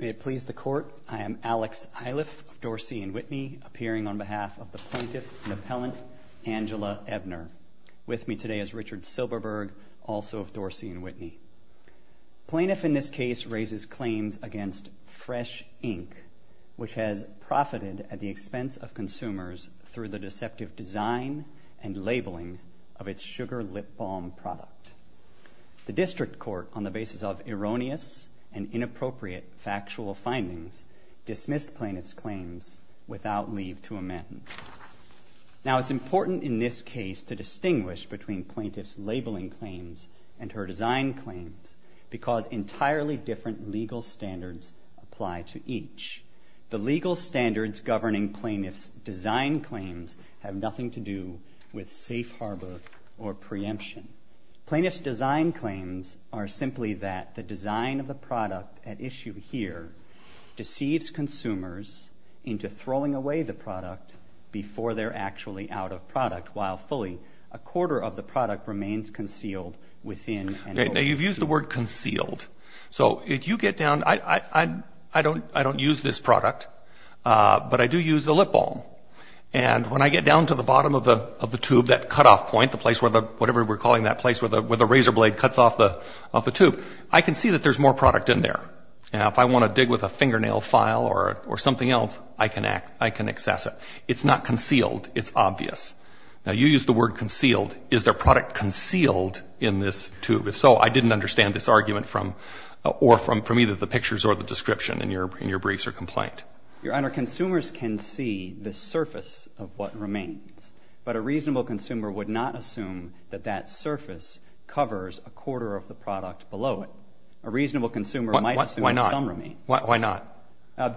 May it please the Court, I am Alex Eiliff of Dorsey & Whitney, appearing on behalf of the plaintiff and appellant, Angela Ebner. With me today is Richard Silberberg, also of Dorsey & Whitney. Plaintiff in this case raises claims against Fresh, Inc., which has profited at the expense of consumers through the deceptive design and labeling of its sugar lip balm product. The District Court, on the basis of erroneous and inappropriate factual findings, dismissed plaintiff's claims without leave to amend. Now it's important in this case to distinguish between plaintiff's labeling claims and her design claims because entirely different legal standards apply to each. The legal standards governing plaintiff's design claims have nothing to do with safe harbor or preemption. Plaintiff's design claims are simply that the design of the product at issue here deceives consumers into throwing away the product before they're actually out of product while fully a quarter of the product remains concealed within an open tube. Now you've used the word concealed. So if you get down, I don't use this product, but I do use the lip balm. And when I get down to the bottom of the tube, that cutoff point, the place where the, whatever we're calling that place, where the razor blade cuts off the tube, I can see that there's more product in there. Now if I want to dig with a fingernail file or something else, I can access it. It's not concealed. It's obvious. Now you used the word concealed. Is there product concealed in this tube? If so, I didn't understand this argument from either the pictures or the description in your briefs or complaint. Your Honor, consumers can see the surface of what remains. But a reasonable consumer would not assume that that surface covers a quarter of the product below it. A reasonable consumer might assume that some remain. Why not?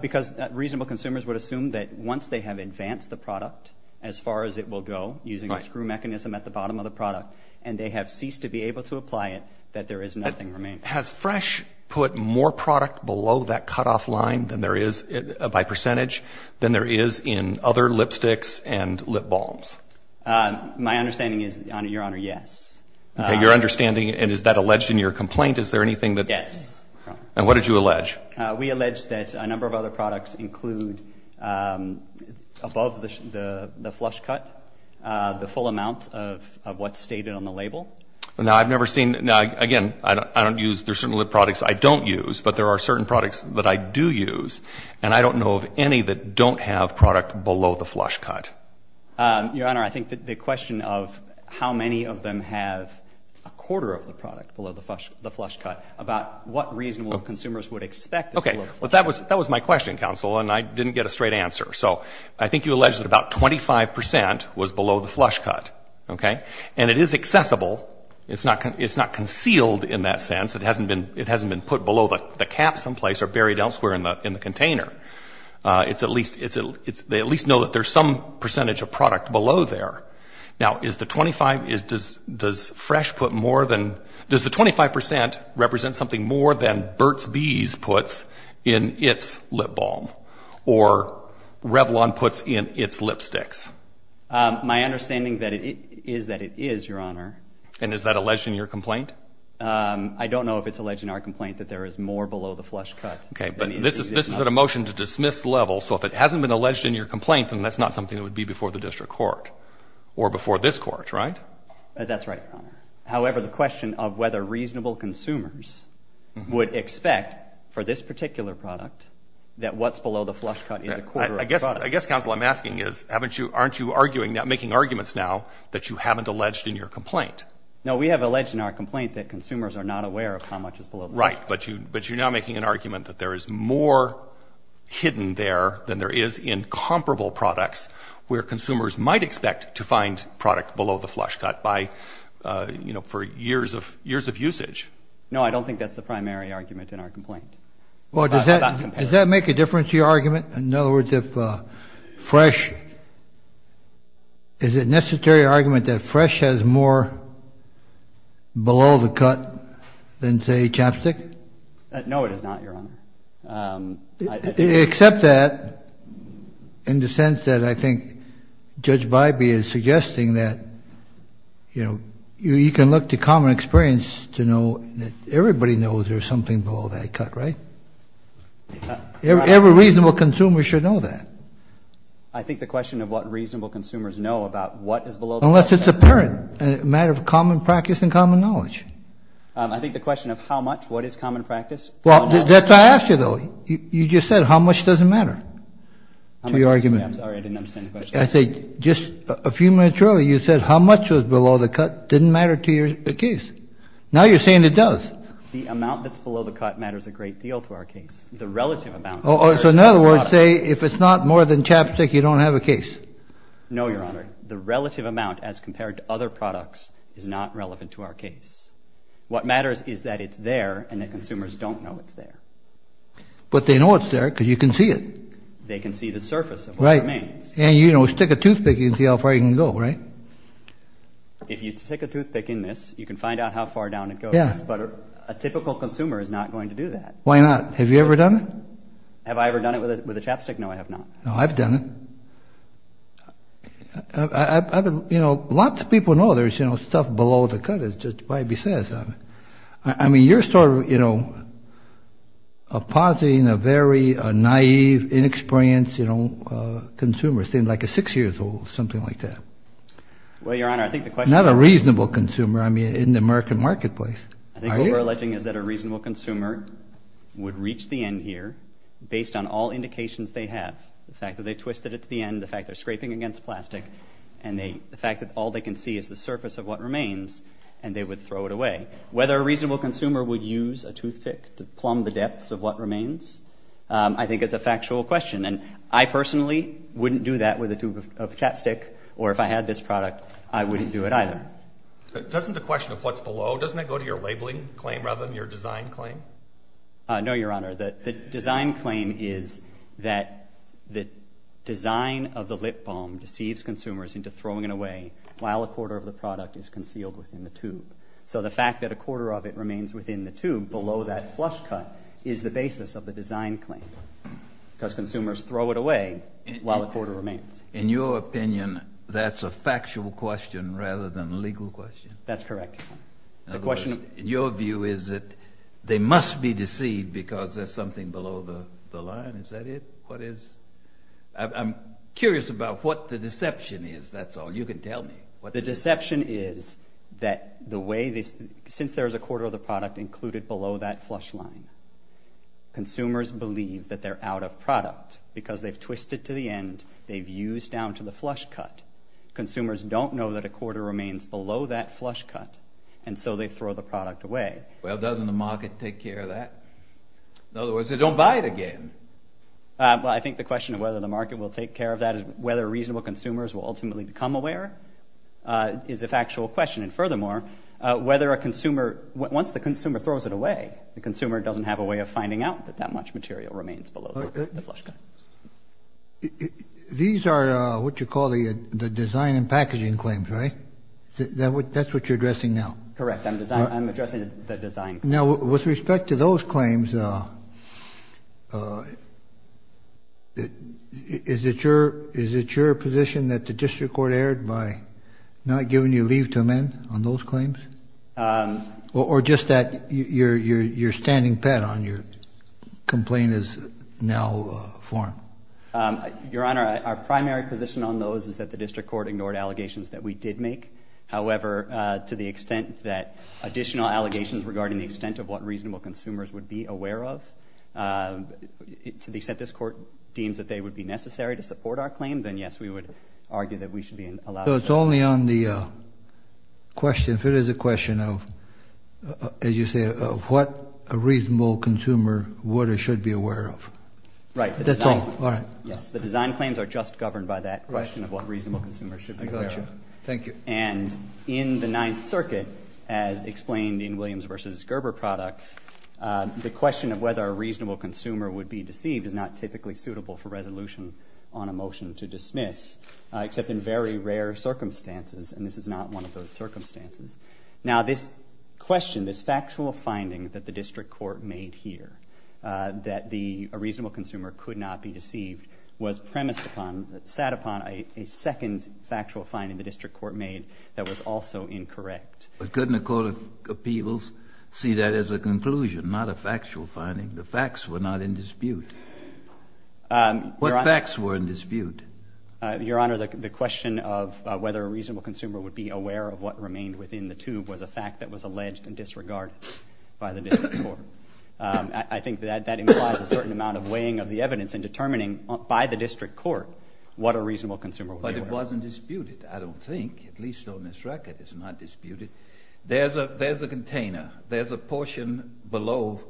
Because reasonable consumers would assume that once they have advanced the product as far as it will go, using a screw mechanism at the bottom of the product, and they have ceased to be able to apply it, that there is nothing remaining. Has Fresh put more product below that cutoff line than there is, by percentage, than there is? My understanding is, Your Honor, yes. Your understanding, and is that alleged in your complaint? Is there anything that... Yes. And what did you allege? We allege that a number of other products include, above the flush cut, the full amount of what's stated on the label. Now I've never seen, now again, I don't use, there are certain lip products I don't use, but there are certain products that I do use, and I don't know of any that don't have product below the flush cut. Your Honor, I think that the question of how many of them have a quarter of the product below the flush cut, about what reasonable consumers would expect is below the flush cut. Okay. Well, that was my question, counsel, and I didn't get a straight answer. So I think you allege that about 25 percent was below the flush cut, okay? And it is accessible. It's not concealed in that sense. It hasn't been put below the cap someplace or buried elsewhere in the container. It's at least, they at least know that there's some percentage of product below there. Now is the 25, does Fresh put more than, does the 25 percent represent something more than Burt's Bees puts in its lip balm, or Revlon puts in its lipsticks? My understanding is that it is, Your Honor. And is that alleged in your complaint? I don't know if it's alleged in our complaint that there is more below the flush cut. Okay. But this is at a motion-to-dismiss level. So if it hasn't been alleged in your complaint, then that's not something that would be before the district court or before this court, right? That's right, Your Honor. However, the question of whether reasonable consumers would expect for this particular product that what's below the flush cut is a quarter of the product. I guess, counsel, what I'm asking is, haven't you, aren't you arguing, making arguments now that you haven't alleged in your complaint? No. We have alleged in our complaint that consumers are not aware of how much is below the flush cut. Right. But you, but you're now making an argument that there is more hidden there than there is in comparable products where consumers might expect to find product below the flush cut by, you know, for years of, years of usage. No, I don't think that's the primary argument in our complaint. Well, does that, does that make a difference to your argument? In other words, if Fresh, is it necessary argument that Fresh has more below the cut than, say, Chapstick? No, it is not, Your Honor. Except that, in the sense that I think Judge Bybee is suggesting that, you know, you can look to common experience to know that everybody knows there's something below that cut, right? Every reasonable consumer should know that. I think the question of what reasonable consumers know about what is below the flush cut. Unless it's apparent. A matter of common practice and common knowledge. I think the question of how much, what is common practice. Well, that's what I asked you, though. You just said how much doesn't matter to your argument. I'm sorry, I didn't understand the question. I said just a few minutes earlier, you said how much was below the cut didn't matter to your case. Now you're saying it does. The amount that's below the cut matters a great deal to our case. The relative amount. So in other words, say, if it's not more than Chapstick, you don't have a case. No, Your Honor. I'm sorry. The relative amount as compared to other products is not relevant to our case. What matters is that it's there and that consumers don't know it's there. But they know it's there because you can see it. They can see the surface of what remains. Right. And, you know, stick a toothpick, you can see how far you can go, right? If you stick a toothpick in this, you can find out how far down it goes, but a typical consumer is not going to do that. Why not? Have you ever done it? Have I ever done it with a Chapstick? No, I have not. No, I've done it. I mean, you know, lots of people know there's, you know, stuff below the cut. It just might be sad. I mean, you're sort of, you know, a positive and a very naive, inexperienced, you know, consumer, saying like a six-year-old, something like that. Well, Your Honor, I think the question is— Not a reasonable consumer, I mean, in the American marketplace. Are you? I think what we're alleging is that a reasonable consumer would reach the end here based on all indications they have, the fact that they twisted it to the end, the fact they're scraping against plastic, and the fact that all they can see is the surface of what remains, and they would throw it away. Whether a reasonable consumer would use a toothpick to plumb the depths of what remains, I think is a factual question, and I personally wouldn't do that with a tube of Chapstick, or if I had this product, I wouldn't do it either. Doesn't the question of what's below, doesn't it go to your labeling claim rather than your design claim? No, Your Honor. The design claim is that the design of the lip balm deceives consumers into throwing it away while a quarter of the product is concealed within the tube. So the fact that a quarter of it remains within the tube below that flush cut is the basis of the design claim, because consumers throw it away while a quarter remains. In your opinion, that's a factual question rather than a legal question? That's correct. In other words, your view is that they must be deceived because there's something below the line? Is that it? What is? I'm curious about what the deception is, that's all. You can tell me. The deception is that the way this, since there's a quarter of the product included below that flush line, consumers believe that they're out of product, because they've twisted to the end, they've used down to the flush cut. Consumers don't know that a quarter remains below that flush cut, and so they throw the product away. Well, doesn't the market take care of that? In other words, they don't buy it again. Well, I think the question of whether the market will take care of that, whether reasonable consumers will ultimately become aware, is a factual question, and furthermore, whether a consumer, once the consumer throws it away, the consumer doesn't have a way of finding out that that much material remains below the flush cut. These are what you call the design and packaging claims, right? That's what you're addressing now? Correct. I'm addressing the design claims. Now, with respect to those claims, is it your position that the district court erred by not giving you leave to amend on those claims? Or just that you're standing pat on your complaint is now formed? Your Honor, our primary position on those is that the district court ignored allegations that we did make. However, to the extent that additional allegations regarding the extent of what reasonable consumers would be aware of, to the extent this court deems that they would be necessary to support our claim, then yes, we would argue that we should be allowed to. So it's only on the question, if it is a question of, as you say, of what a reasonable consumer would or should be aware of. Right. That's all. All right. Yes. The design claims are just governed by that question of what reasonable consumers should be aware of. I got you. Thank you. And in the Ninth Circuit, as explained in Williams v. Gerber products, the question of whether a reasonable consumer would be deceived is not typically suitable for resolution on a motion to dismiss, except in very rare circumstances. And this is not one of those circumstances. Now this question, this factual finding that the district court made here, that a reasonable consumer could not be deceived, was premised upon, sat upon a second factual finding the district court made that was also incorrect. But couldn't a court of appeals see that as a conclusion, not a factual finding? The facts were not in dispute. What facts were in dispute? Your Honor, the question of whether a reasonable consumer would be aware of what remained within the tube was a fact that was alleged in disregard by the district court. I think that that implies a certain amount of weighing of the evidence and determining by the district court what a reasonable consumer would be aware of. But it wasn't disputed. I don't think, at least on this record, it's not disputed. There's a container. There's a portion below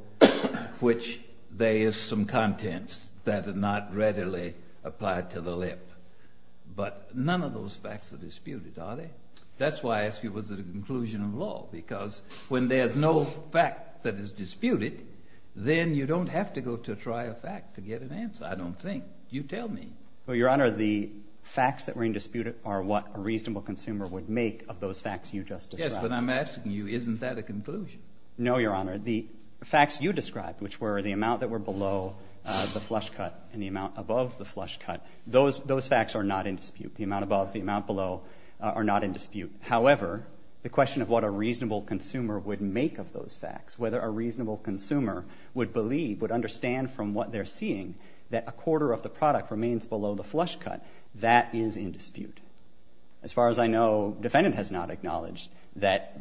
which there is some contents that are not readily applied to the lip. But none of those facts are disputed, are they? That's why I ask you, was it a conclusion of law? Because when there's no fact that is disputed, then you don't have to go to try a fact to get an answer. I don't think. You tell me. Well, Your Honor, the facts that were in dispute are what a reasonable consumer would make of those facts you just described. But I'm asking you, isn't that a conclusion? No, Your Honor. The facts you described, which were the amount that were below the flush cut and the amount above the flush cut, those facts are not in dispute. The amount above, the amount below are not in dispute. However, the question of what a reasonable consumer would make of those facts, whether a reasonable consumer would believe, would understand from what they're seeing, that is not in dispute. As far as I know, defendant has not acknowledged that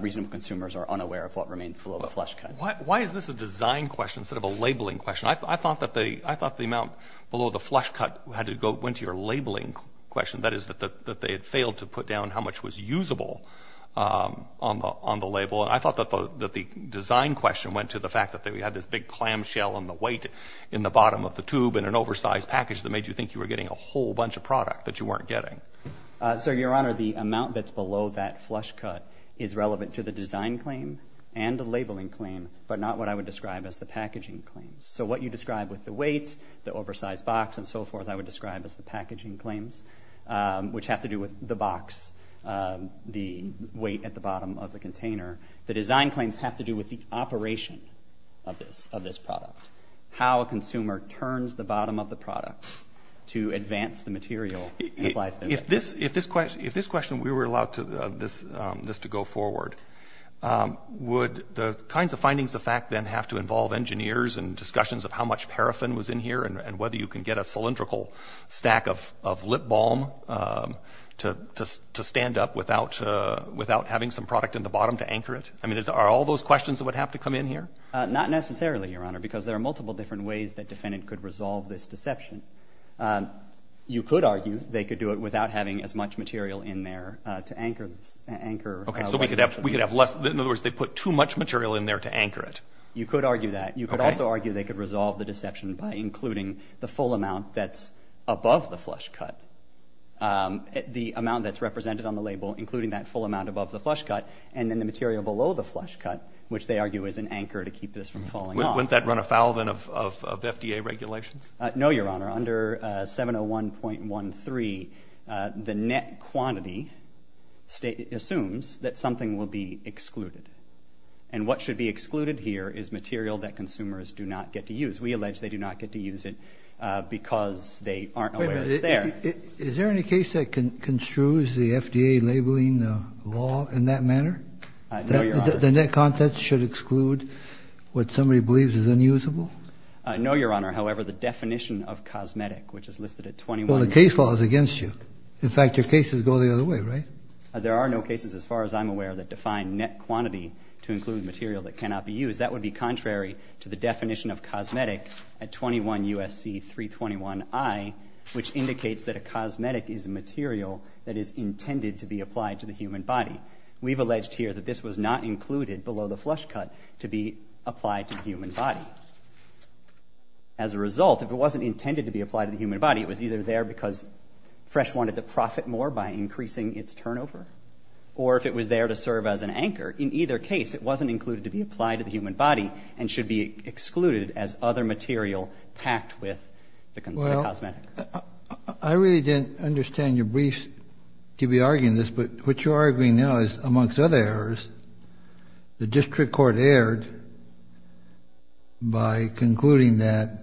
reasonable consumers are unaware of what remains below the flush cut. Why is this a design question instead of a labeling question? I thought that they, I thought the amount below the flush cut had to go, went to your labeling question, that is, that they had failed to put down how much was usable on the label. And I thought that the design question went to the fact that we had this big clamshell on the weight in the bottom of the tube in an oversized package that made you think you were getting a whole bunch of product that you weren't getting. So, Your Honor, the amount that's below that flush cut is relevant to the design claim and the labeling claim, but not what I would describe as the packaging claims. So what you described with the weight, the oversized box, and so forth, I would describe as the packaging claims, which have to do with the box, the weight at the bottom of the container. The design claims have to do with the operation of this, of this product. How a consumer turns the bottom of the product to advance the material. If this, if this question, if this question, we were allowed to, this, this to go forward, would the kinds of findings of fact then have to involve engineers and discussions of how much paraffin was in here and whether you can get a cylindrical stack of, of lip balm to stand up without, without having some product in the bottom to anchor it? I mean, are all those questions that would have to come in here? Not necessarily, Your Honor, because there are multiple different ways that defendant could resolve this deception. You could argue they could do it without having as much material in there to anchor this, anchor. Okay. So we could have, we could have less, in other words, they put too much material in there to anchor it. You could argue that. You could also argue they could resolve the deception by including the full amount that's above the flush cut. The amount that's represented on the label, including that full amount above the flush cut. And then the material below the flush cut, which they argue is an anchor to keep this from falling off. Wouldn't that run afoul then of, of, of FDA regulations? No, Your Honor, under a 701.13, uh, the net quantity state assumes that something will be excluded. And what should be excluded here is material that consumers do not get to use. We allege they do not get to use it, uh, because they aren't aware it's there. Is there any case that construes the FDA labeling the law in that manner? Uh, no, Your Honor. That the net content should exclude what somebody believes is unusable? Uh, no, Your Honor. However, the definition of cosmetic, which is listed at 21- Well, the case law is against you. In fact, your cases go the other way, right? There are no cases, as far as I'm aware, that define net quantity to include material that cannot be used. Because that would be contrary to the definition of cosmetic at 21 U.S.C. 321-I, which indicates that a cosmetic is a material that is intended to be applied to the human body. We've alleged here that this was not included below the flush cut to be applied to the human body. As a result, if it wasn't intended to be applied to the human body, it was either there because Fresh wanted to profit more by increasing its turnover, or if it was there to serve as an anchor. In either case, it wasn't included to be applied to the human body and should be excluded as other material packed with the cosmetic. Well, I really didn't understand your briefs to be arguing this, but what you're arguing now is, amongst other errors, the district court erred by concluding that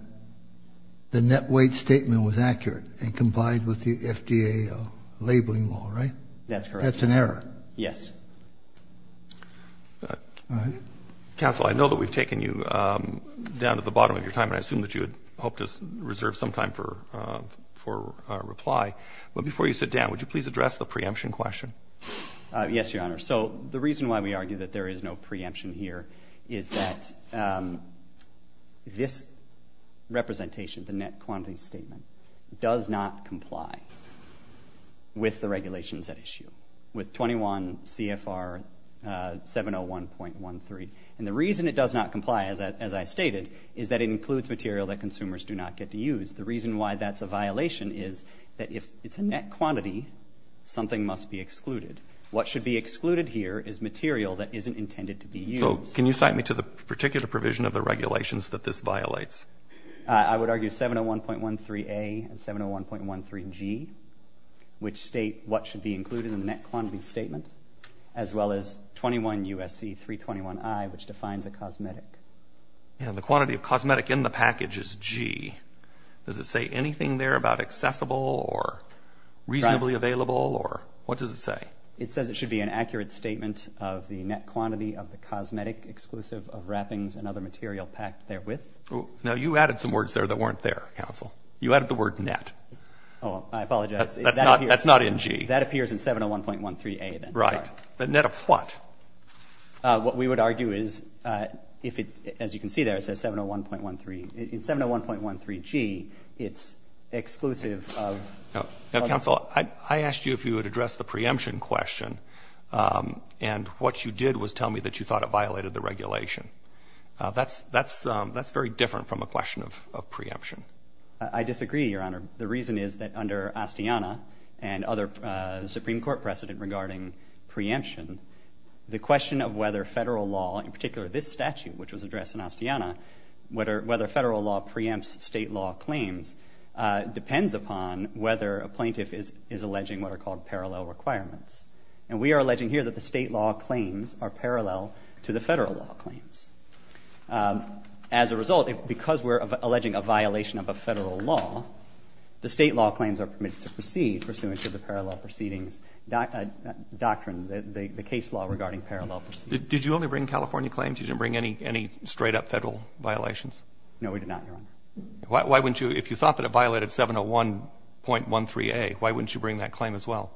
the net weight statement was accurate and complied with the FDA labeling law, right? That's correct. That's an error. That's an error? Yes. Counsel, I know that we've taken you down to the bottom of your time, and I assume that you had hoped to reserve some time for reply, but before you sit down, would you please address the preemption question? Yes, Your Honor. So the reason why we argue that there is no preemption here is that this representation, the net quantity statement, does not comply with the regulations at issue, with 21 CFR 701.13. And the reason it does not comply, as I stated, is that it includes material that consumers do not get to use. The reason why that's a violation is that if it's a net quantity, something must be excluded. What should be excluded here is material that isn't intended to be used. So can you cite me to the particular provision of the regulations that this violates? I would argue 701.13A and 701.13G, which state what should be included in the net quantity statement, as well as 21 U.S.C. 321I, which defines a cosmetic. And the quantity of cosmetic in the package is G. Does it say anything there about accessible or reasonably available, or what does it say? It says it should be an accurate statement of the net quantity of the cosmetic exclusive of wrappings and other material packed therewith. Now you added some words there that weren't there, counsel. You added the word net. Oh, I apologize. That's not in G. That appears in 701.13A, then. Right. The net of what? What we would argue is if it, as you can see there, it says 701.13, in 701.13G, it's exclusive of. Now, counsel, I asked you if you would address the preemption question. And what you did was tell me that you thought it violated the regulation. That's very different from a question of preemption. I disagree, Your Honor. The reason is that under Astiana and other Supreme Court precedent regarding preemption, the question of whether federal law, in particular this statute which was addressed in Astiana, whether federal law preempts state law claims depends upon whether a plaintiff is alleging what are called parallel requirements. And we are alleging here that the state law claims are parallel to the federal law claims. As a result, because we're alleging a violation of a federal law, the state law claims are permitted to proceed pursuant to the parallel proceedings doctrine, the case law regarding parallel proceedings. Did you only bring California claims? You didn't bring any straight-up federal violations? No, we did not, Your Honor. Why wouldn't you? If you thought that it violated 701.13A, why wouldn't you bring that claim as well?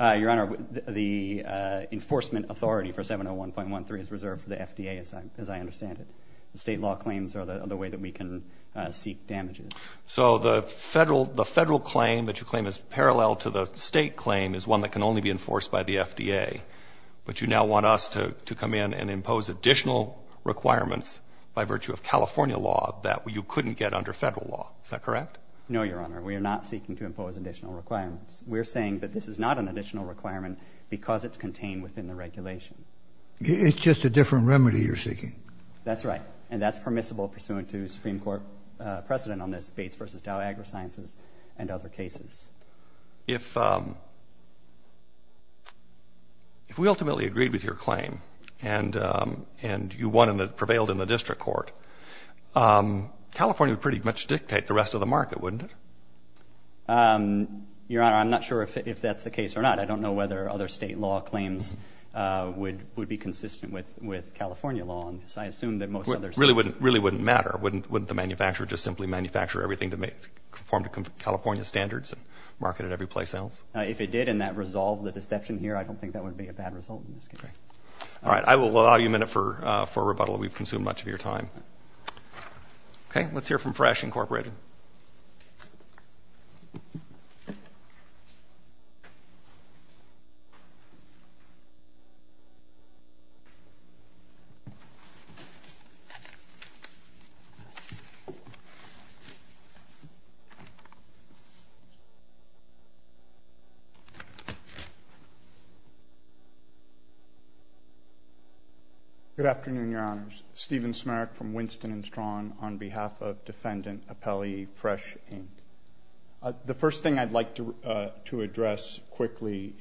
Your Honor, the enforcement authority for 701.13 is reserved for the FDA, as I understand it. The state law claims are the way that we can seek damages. So the federal claim that you claim is parallel to the state claim is one that can only be enforced by the FDA, but you now want us to come in and impose additional requirements by virtue of California law that you couldn't get under federal law. Is that correct? No, Your Honor. We are not seeking to impose additional requirements. We are saying that this is not an additional requirement because it's contained within the regulation. It's just a different remedy you're seeking. That's right. And that's permissible pursuant to Supreme Court precedent on this, Bates v. Dow AgriSciences and other cases. If we ultimately agreed with your claim and you prevailed in the district court, California would pretty much dictate the rest of the market, wouldn't it? Your Honor, I'm not sure if that's the case or not. I don't know whether other state law claims would be consistent with California law on this. I assume that most others... Really wouldn't matter. Wouldn't the manufacturer just simply manufacture everything to conform to California standards and market it every place else? If it did and that resolved the deception here, I don't think that would be a bad result in this case. All right. I will allow you a minute for rebuttal. We've consumed much of your time. Okay. Let's hear from Fresh, Inc. Good afternoon, Your Honors. I'm Stephen Smarrick from Winston and Strawn on behalf of Defendant Appellee Fresh, Inc. The first thing I'd like to address quickly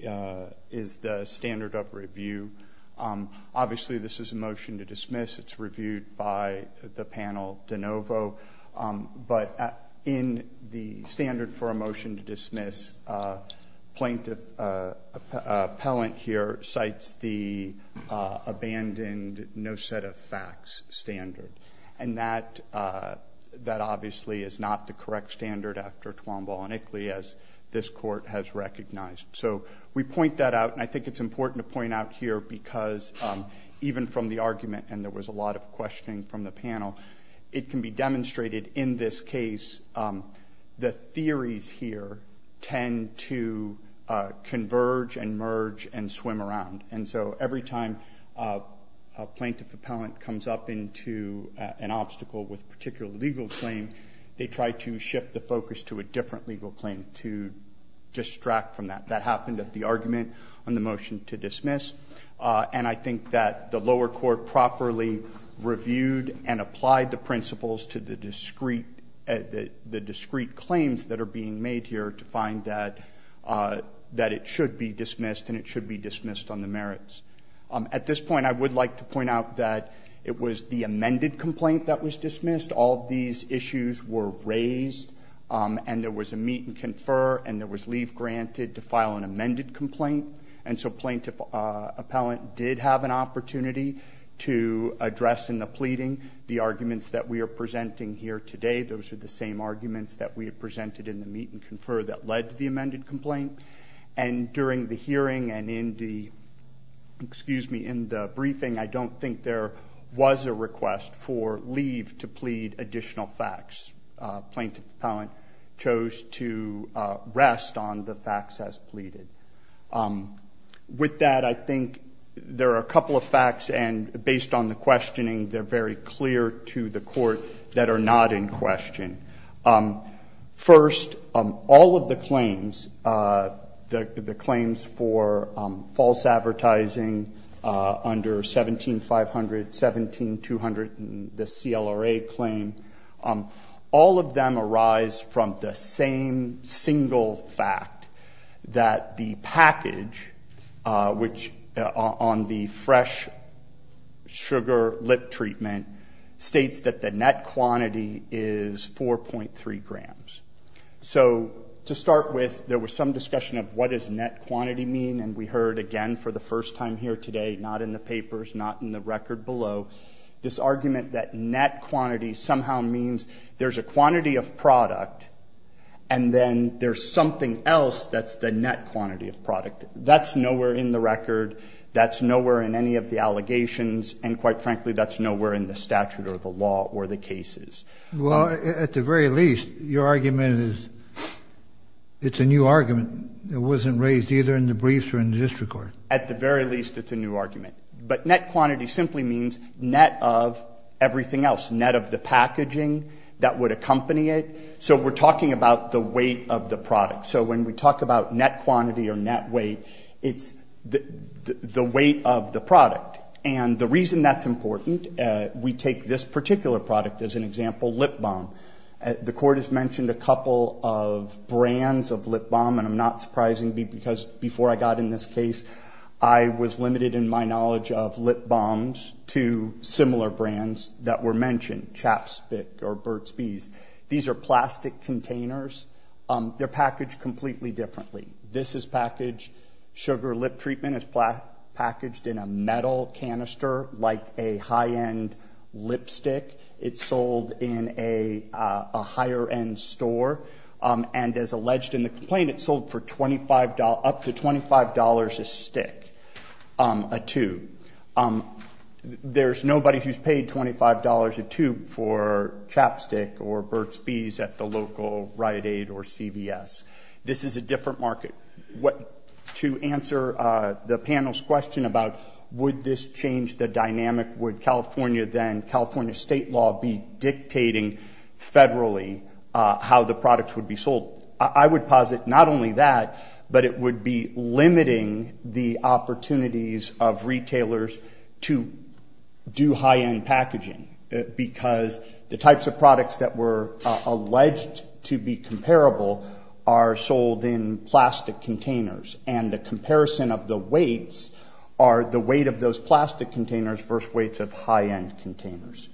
is the standard of review. Obviously, this is a motion to dismiss. It's reviewed by the panel de novo. But in the standard for a motion to dismiss, plaintiff appellant here cites the abandoned no set of facts standard. And that obviously is not the correct standard after Twombaugh and Ickley as this court has recognized. So we point that out. And I think it's important to point out here because even from the argument, and there in this case, the theories here tend to converge and merge and swim around. And so every time a plaintiff appellant comes up into an obstacle with a particular legal claim, they try to shift the focus to a different legal claim to distract from that. That happened at the argument on the motion to dismiss. And I think that the lower court properly reviewed and applied the principles to the discrete claims that are being made here to find that it should be dismissed and it should be dismissed on the merits. At this point, I would like to point out that it was the amended complaint that was dismissed. All of these issues were raised. And there was a meet and confer. And there was leave granted to file an amended complaint. And so plaintiff appellant did have an opportunity to address in the pleading the arguments that we are presenting here today. Those are the same arguments that we have presented in the meet and confer that led to the amended complaint. And during the hearing and in the briefing, I don't think there was a request for leave to plead additional facts. Plaintiff appellant chose to rest on the facts as pleaded. With that, I think there are a couple of facts. And based on the questioning, they are very clear to the court that are not in question. First, all of the claims, the claims for false advertising under 17500, 17200, the CLRA claim, all of them arise from the same single fact that the package, which on the fresh sugar lip treatment states that the net quantity is 4.3 grams. So to start with, there was some discussion of what does net quantity mean. And we heard again for the first time here today, not in the papers, not in the record below, this argument that net quantity somehow means there's a quantity of product and then there's something else that's the net quantity of product. That's nowhere in the record. That's nowhere in any of the allegations. And quite frankly, that's nowhere in the statute or the law or the cases. Well, at the very least, your argument is it's a new argument. It wasn't raised either in the briefs or in the district court. At the very least, it's a new argument. But net quantity simply means net of everything else, net of the packaging that would accompany it. So we're talking about the weight of the product. So when we talk about net quantity or net weight, it's the weight of the product. And the reason that's important, we take this particular product as an example, Lip Balm. The court has mentioned a couple of brands of Lip Balm. And I'm not surprised because before I got in this case, I was limited in my knowledge of Lip Balms to similar brands that were mentioned, Chaps Bic or Burt's Bees. These are plastic containers. They're packaged completely differently. This is packaged sugar lip treatment. It's packaged in a metal canister like a high-end lipstick. It's sold in a higher-end store. And as alleged in the complaint, it's sold for up to $25 a stick, a tube. There's nobody who's paid $25 a tube for Chaps Bic or Burt's Bees at the local Rite Aid or CVS. This is a different market. To answer the panel's question about would this change the dynamic, would California then, California state law be dictating federally how the product would be sold, I would posit not only that, but it would be limiting the opportunities of retailers to do high-end packaging because the types of products that were alleged to be comparable are sold in plastic containers. And the comparison of the weights are the weight of those plastic containers versus weights of high-end containers.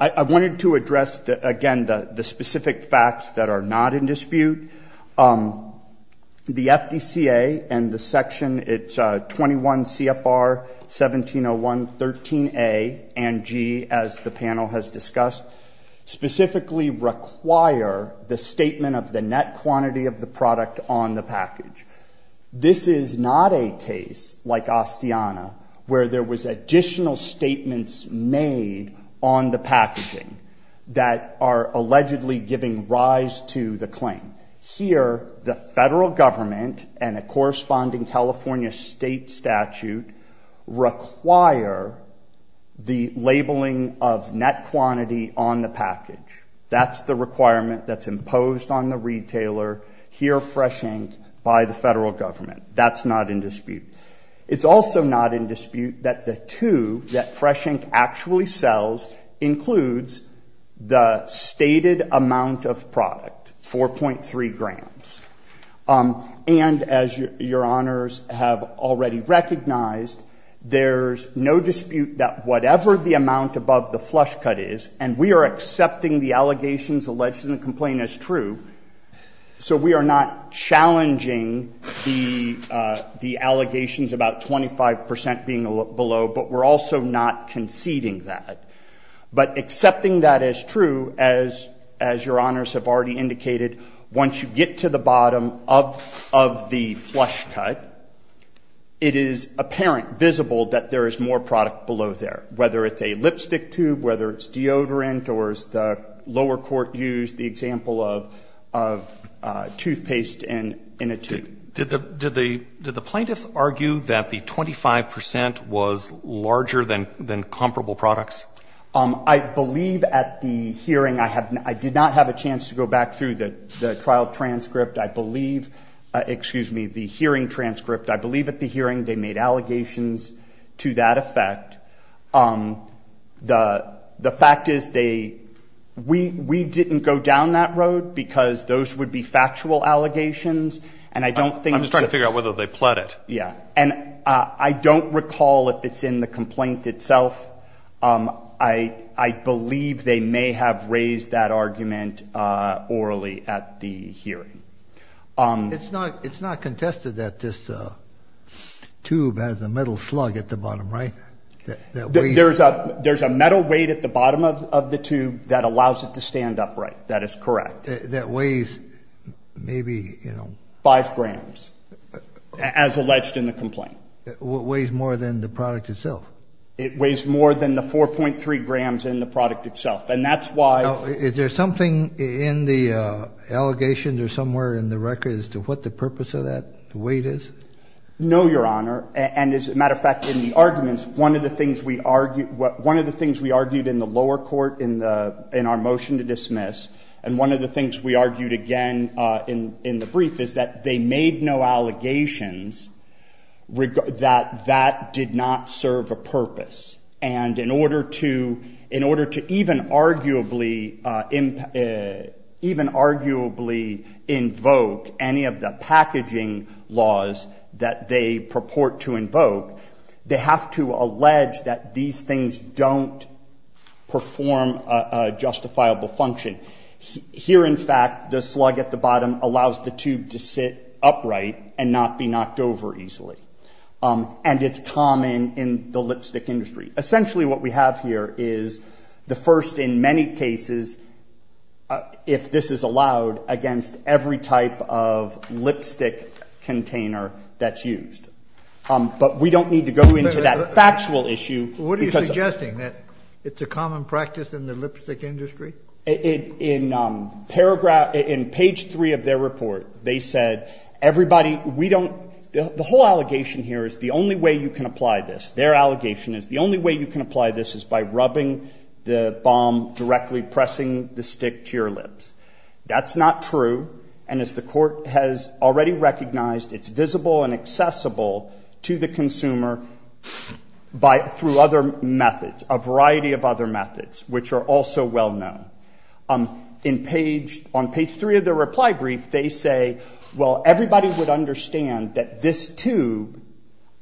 I wanted to address, again, the specific facts that are not in dispute. The FDCA and the section, it's 21 CFR 1701.13a and g, as the panel has discussed, specifically require the statement of the net quantity of the product on the package. This is not a case like Ostiana where there was additional statements made on the packaging that are allegedly giving rise to the claim. Here, the federal government and a corresponding California state statute require the labeling of net quantity on the package. That's the requirement that's imposed on the retailer. Here, fresh ink by the federal government. That's not in dispute. It's also not in dispute that the two that fresh ink actually sells includes the stated amount of product, 4.3 grams. And as your honors have already recognized, there's no dispute that whatever the amount above the flush cut is, and we are accepting the allegations alleged in the complaint as true, so we are not challenging the allegations about 25 percent being below, but we're also not conceding that. But accepting that as true, as your honors have already indicated, once you get to the bottom of the flush cut, it is apparent, visible, that there is more product below there, whether it's a lipstick tube, whether it's deodorant, or as the lower court used the example of toothpaste in a tube. Did the plaintiffs argue that the 25 percent was larger than comparable products? I believe at the hearing, I did not have a chance to go back through the trial transcript. I believe, excuse me, the hearing transcript. I believe at the hearing they made allegations to that effect. The fact is they, we didn't go down that road because those would be factual allegations, and I don't think. I'm just trying to figure out whether they pled it. Yeah. And I don't recall if it's in the complaint itself. I believe they may have raised that argument orally at the hearing. It's not contested that this tube has a metal slug at the bottom, right? There's a metal weight at the bottom of the tube that allows it to stand upright. That is correct. That weighs maybe, you know. Five grams, as alleged in the complaint. It weighs more than the product itself. It weighs more than the 4.3 grams in the product itself, and that's why. Now, is there something in the allegations or somewhere in the record as to what the purpose of that weight is? No, Your Honor. And as a matter of fact, in the arguments, one of the things we argued in the lower court in our motion to dismiss, and one of the things we argued again in the brief is that they made no allegations that that did not serve a purpose. And in order to even arguably invoke any of the packaging laws that they purport to invoke, they have to allege that these things don't perform a justifiable function. Here, in fact, the slug at the bottom allows the tube to sit upright and not be knocked over easily. And it's common in the lipstick industry. Essentially what we have here is the first in many cases, if this is allowed, against every type of lipstick container that's used. But we don't need to go into that factual issue. What are you suggesting, that it's a common practice in the lipstick industry? In paragraph, in page 3 of their report, they said, everybody, we don't, the whole allegation here is the only way you can apply this. Their allegation is the only way you can apply this is by rubbing the balm directly, pressing the stick to your lips. That's not true. And as the court has already recognized, it's visible and accessible to the consumer by, through other methods, a variety of other methods, which are also well known. In page, on page 3 of their reply brief, they say, well, everybody would understand that this tube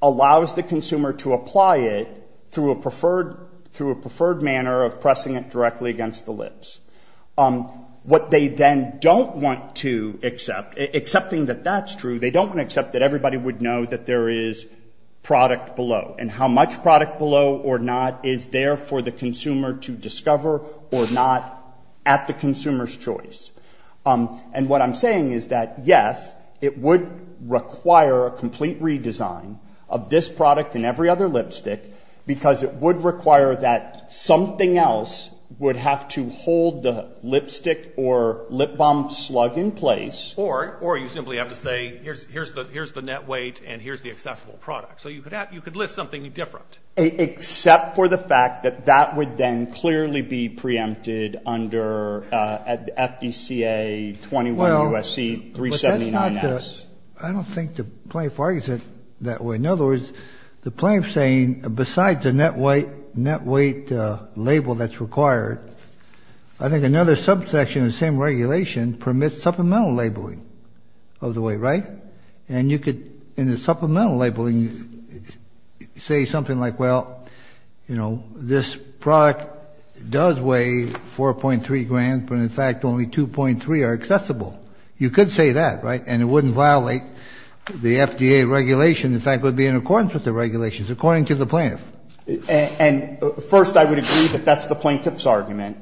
allows the consumer to apply it through a preferred manner of pressing it directly against the lips. What they then don't want to accept, accepting that that's true, they don't want to accept that everybody would know that there is product below. And how much product below or not is there for the consumer to discover or not at the consumer's choice. And what I'm saying is that, yes, it would require a complete redesign of this product and every other lipstick, because it would require that something else would have to hold the lipstick or lip balm slug in place. Or you simply have to say, here's the net weight and here's the accessible product. So you could list something different. Except for the fact that that would then clearly be preempted under FDCA 21 U.S.C. 379-S. I don't think the plaintiff argues it that way. In other words, the plaintiff is saying, besides the net weight label that's required, I think another subsection of the same regulation permits supplemental labeling of the weight, right? And you could, in the supplemental labeling, say something like, well, you know, this product does weigh 4.3 grams, but in fact only 2.3 are accessible. You could say that, right? And it wouldn't violate the FDA regulation. In fact, it would be in accordance with the regulations, according to the plaintiff. And first, I would agree that that's the plaintiff's argument.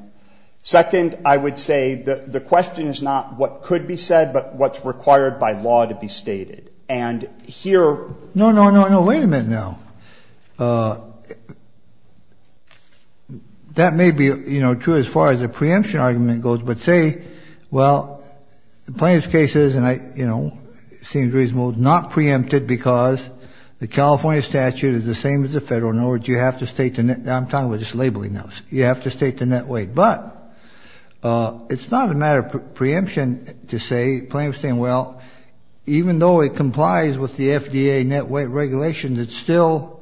Second, I would say the question is not what could be said, but what's required by law to be stated. And here ‑‑ No, no, no, no. Wait a minute now. That may be, you know, true as far as the preemption argument goes. But say, well, the plaintiff's case is, and I, you know, seems reasonable, not preempted because the California statute is the same as the federal. In other words, you have to state the net ‑‑ I'm talking about just labeling those. You have to state the net weight. But it's not a matter of preemption to say, plaintiff's saying, well, even though it complies with the FDA net weight regulations, it's still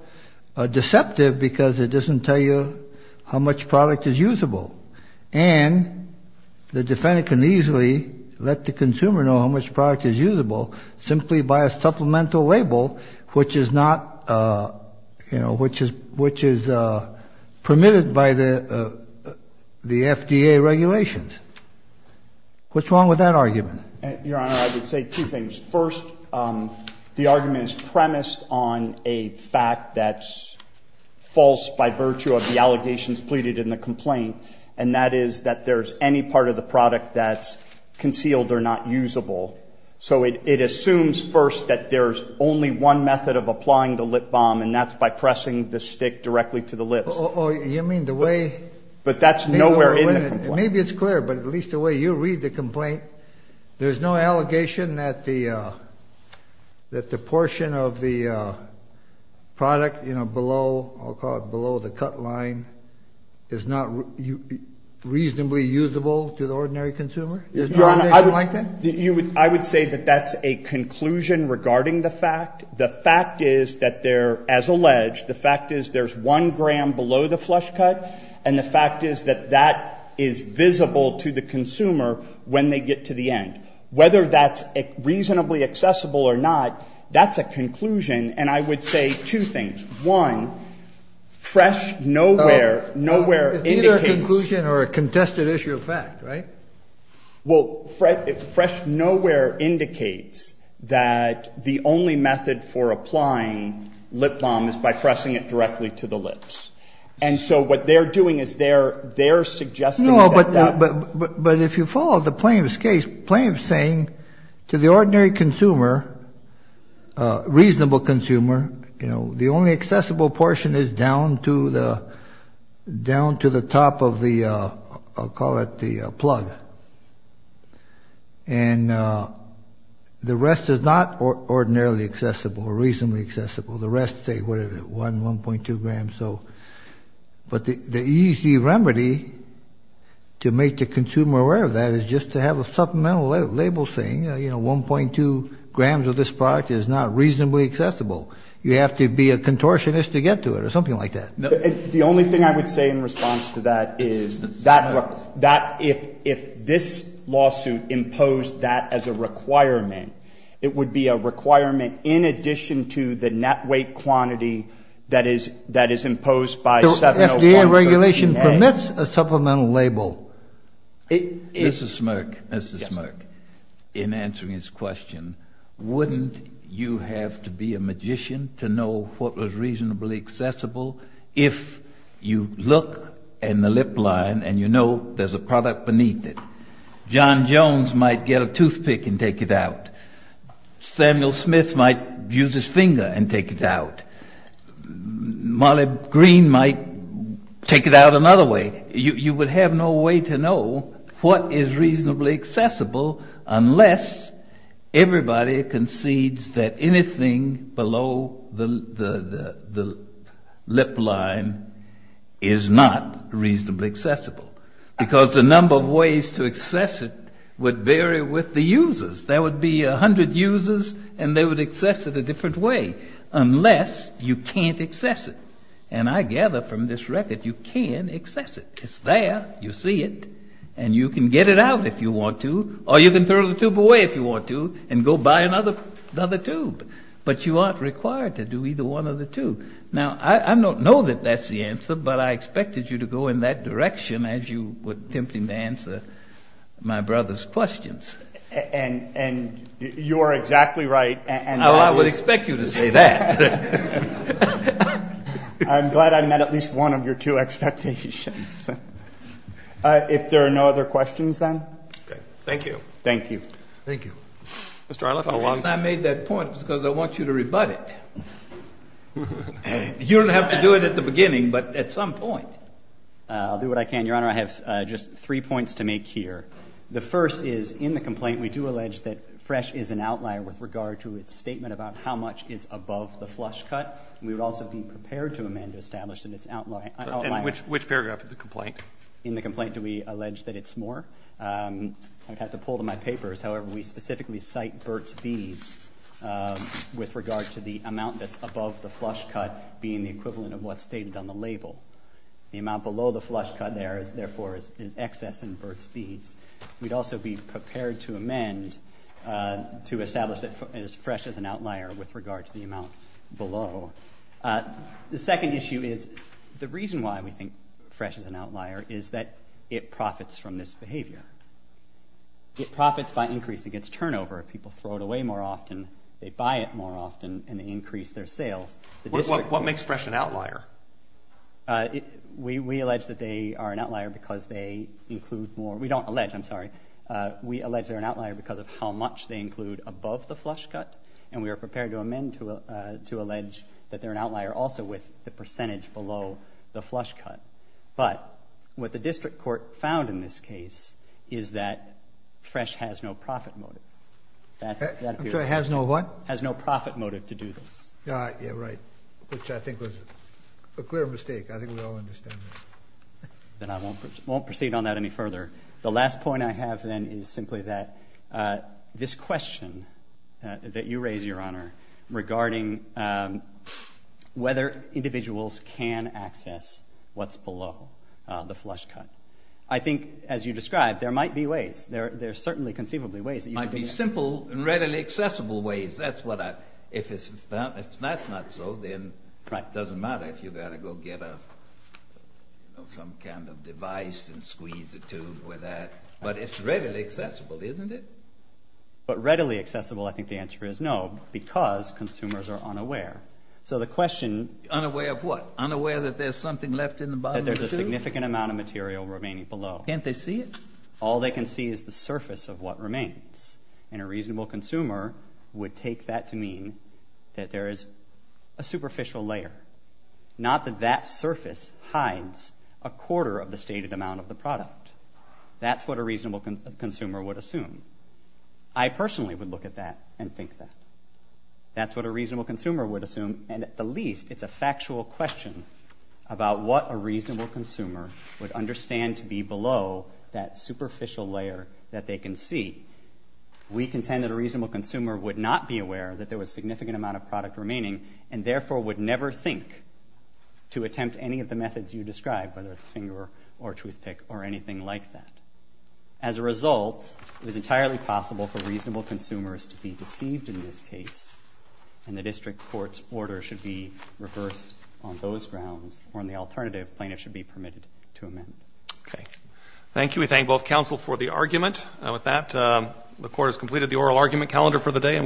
deceptive because it doesn't tell you how much product is usable. And the defendant can easily let the consumer know how much product is usable simply by a supplemental label, which is not, you know, which is permitted by the FDA regulations. What's wrong with that argument? Your Honor, I would say two things. First, the argument is premised on a fact that's false by virtue of the allegations pleaded in the complaint, and that is that there's any part of the product that's concealed or not usable. So it assumes first that there's only one method of applying the lip balm, and that's by pressing the stick directly to the lips. Oh, you mean the way ‑‑ But that's nowhere in the complaint. Maybe it's clear, but at least the way you read the complaint, there's no allegation that the portion of the product, you know, below, I'll call it below the cut line, is not reasonably usable to the ordinary consumer? Your Honor, I would say that that's a conclusion regarding the fact. The fact is that there, as alleged, the fact is there's one gram below the flush cut, and the fact is that that is visible to the consumer when they get to the end. Whether that's reasonably accessible or not, that's a conclusion, and I would say two things. One, fresh nowhere, nowhere indicates ‑‑ It's either a conclusion or a contested issue of fact, right? Well, fresh nowhere indicates that the only method for applying lip balm is by pressing it directly to the lips. And so what they're doing is they're suggesting that that ‑‑ No, but if you follow the plaintiff's case, the plaintiff's saying to the ordinary consumer, reasonable consumer, you know, the only accessible portion is down to the top of the, I'll call it the plug. And the rest is not ordinarily accessible or reasonably accessible. The rest say, whatever, 1, 1.2 grams. But the easy remedy to make the consumer aware of that is just to have a supplemental label saying, you know, 1.2 grams of this product is not reasonably accessible. You have to be a contortionist to get to it or something like that. The only thing I would say in response to that is that if this lawsuit imposed that as a requirement, it would be a requirement in addition to the net weight quantity that is imposed by 701.13A. So FDA regulation permits a supplemental label. Mr. Smirk, Mr. Smirk, in answering his question, wouldn't you have to be a magician to know what was reasonably accessible if you look in the lip line and you know there's a product beneath it? John Jones might get a toothpick and take it out. Samuel Smith might use his finger and take it out. Molly Green might take it out another way. You would have no way to know what is reasonably accessible unless everybody concedes that anything below the lip line is not reasonably accessible. Because the number of ways to access it would vary with the users. There would be 100 users and they would access it a different way unless you can't access it. And I gather from this record you can access it. It's there. You see it. And you can get it out if you want to or you can throw the tube away if you want to and go buy another tube. But you aren't required to do either one of the two. Now, I don't know that that's the answer, but I expected you to go in that direction as you were attempting to answer my brother's questions. And you are exactly right. Well, I would expect you to say that. I'm glad I met at least one of your two expectations. If there are no other questions, then. Thank you. Thank you. Thank you. Mr. Arloff. I made that point because I want you to rebut it. You don't have to do it at the beginning, but at some point. I'll do what I can, Your Honor. I have just three points to make here. The first is, in the complaint, we do allege that fresh is an outlier with regard to its statement about how much is above the flush cut. We would also be prepared to amend to establish that it's an outlier. And which paragraph of the complaint? In the complaint, do we allege that it's more? I'd have to pull to my papers. However, we specifically cite Burt's Beads with regard to the amount that's above the flush cut being the equivalent of what's stated on the label. The amount below the flush cut, therefore, is excess in Burt's Beads. We'd also be prepared to amend to establish that it's fresh as an outlier with regard to the amount below. The second issue is the reason why we think fresh is an outlier is that it profits from this behavior. It profits by increasing its turnover. If people throw it away more often, they buy it more often, and they increase their sales. What makes fresh an outlier? We allege that they are an outlier because they include more. We don't allege, I'm sorry. We allege they're an outlier because of how much they include above the flush cut, and we are prepared to amend to allege that they're an outlier also with the percentage below the flush cut. But what the district court found in this case is that fresh has no profit motive. I'm sorry, has no what? Has no profit motive to do this. Yeah, right, which I think was a clear mistake. I think we all understand that. Then I won't proceed on that any further. The last point I have, then, is simply that this question that you raise, Your Honor, regarding whether individuals can access what's below the flush cut, I think, as you described, there might be ways. There are certainly conceivably ways that you could do that. Might be simple and readily accessible ways. If that's not so, then it doesn't matter if you've got to go get some kind of device and squeeze a tube with that. But it's readily accessible, isn't it? But readily accessible, I think the answer is no, because consumers are unaware. So the question— Unaware of what? Unaware that there's something left in the bottom of the tube? That there's a significant amount of material remaining below. Can't they see it? All they can see is the surface of what remains. And a reasonable consumer would take that to mean that there is a superficial layer. Not that that surface hides a quarter of the stated amount of the product. That's what a reasonable consumer would assume. I personally would look at that and think that. That's what a reasonable consumer would assume. And at the least, it's a factual question about what a reasonable consumer would understand to be below that superficial layer that they can see. We contend that a reasonable consumer would not be aware that there was a significant amount of product remaining and therefore would never think to attempt any of the methods you describe, whether it's a finger or a toothpick or anything like that. As a result, it was entirely possible for reasonable consumers to be deceived in this case. And the district court's order should be reversed on those grounds. Or on the alternative, plaintiffs should be permitted to amend. Okay. Thank you. We thank both counsel for the argument. With that, the court has completed the oral argument calendar for the day.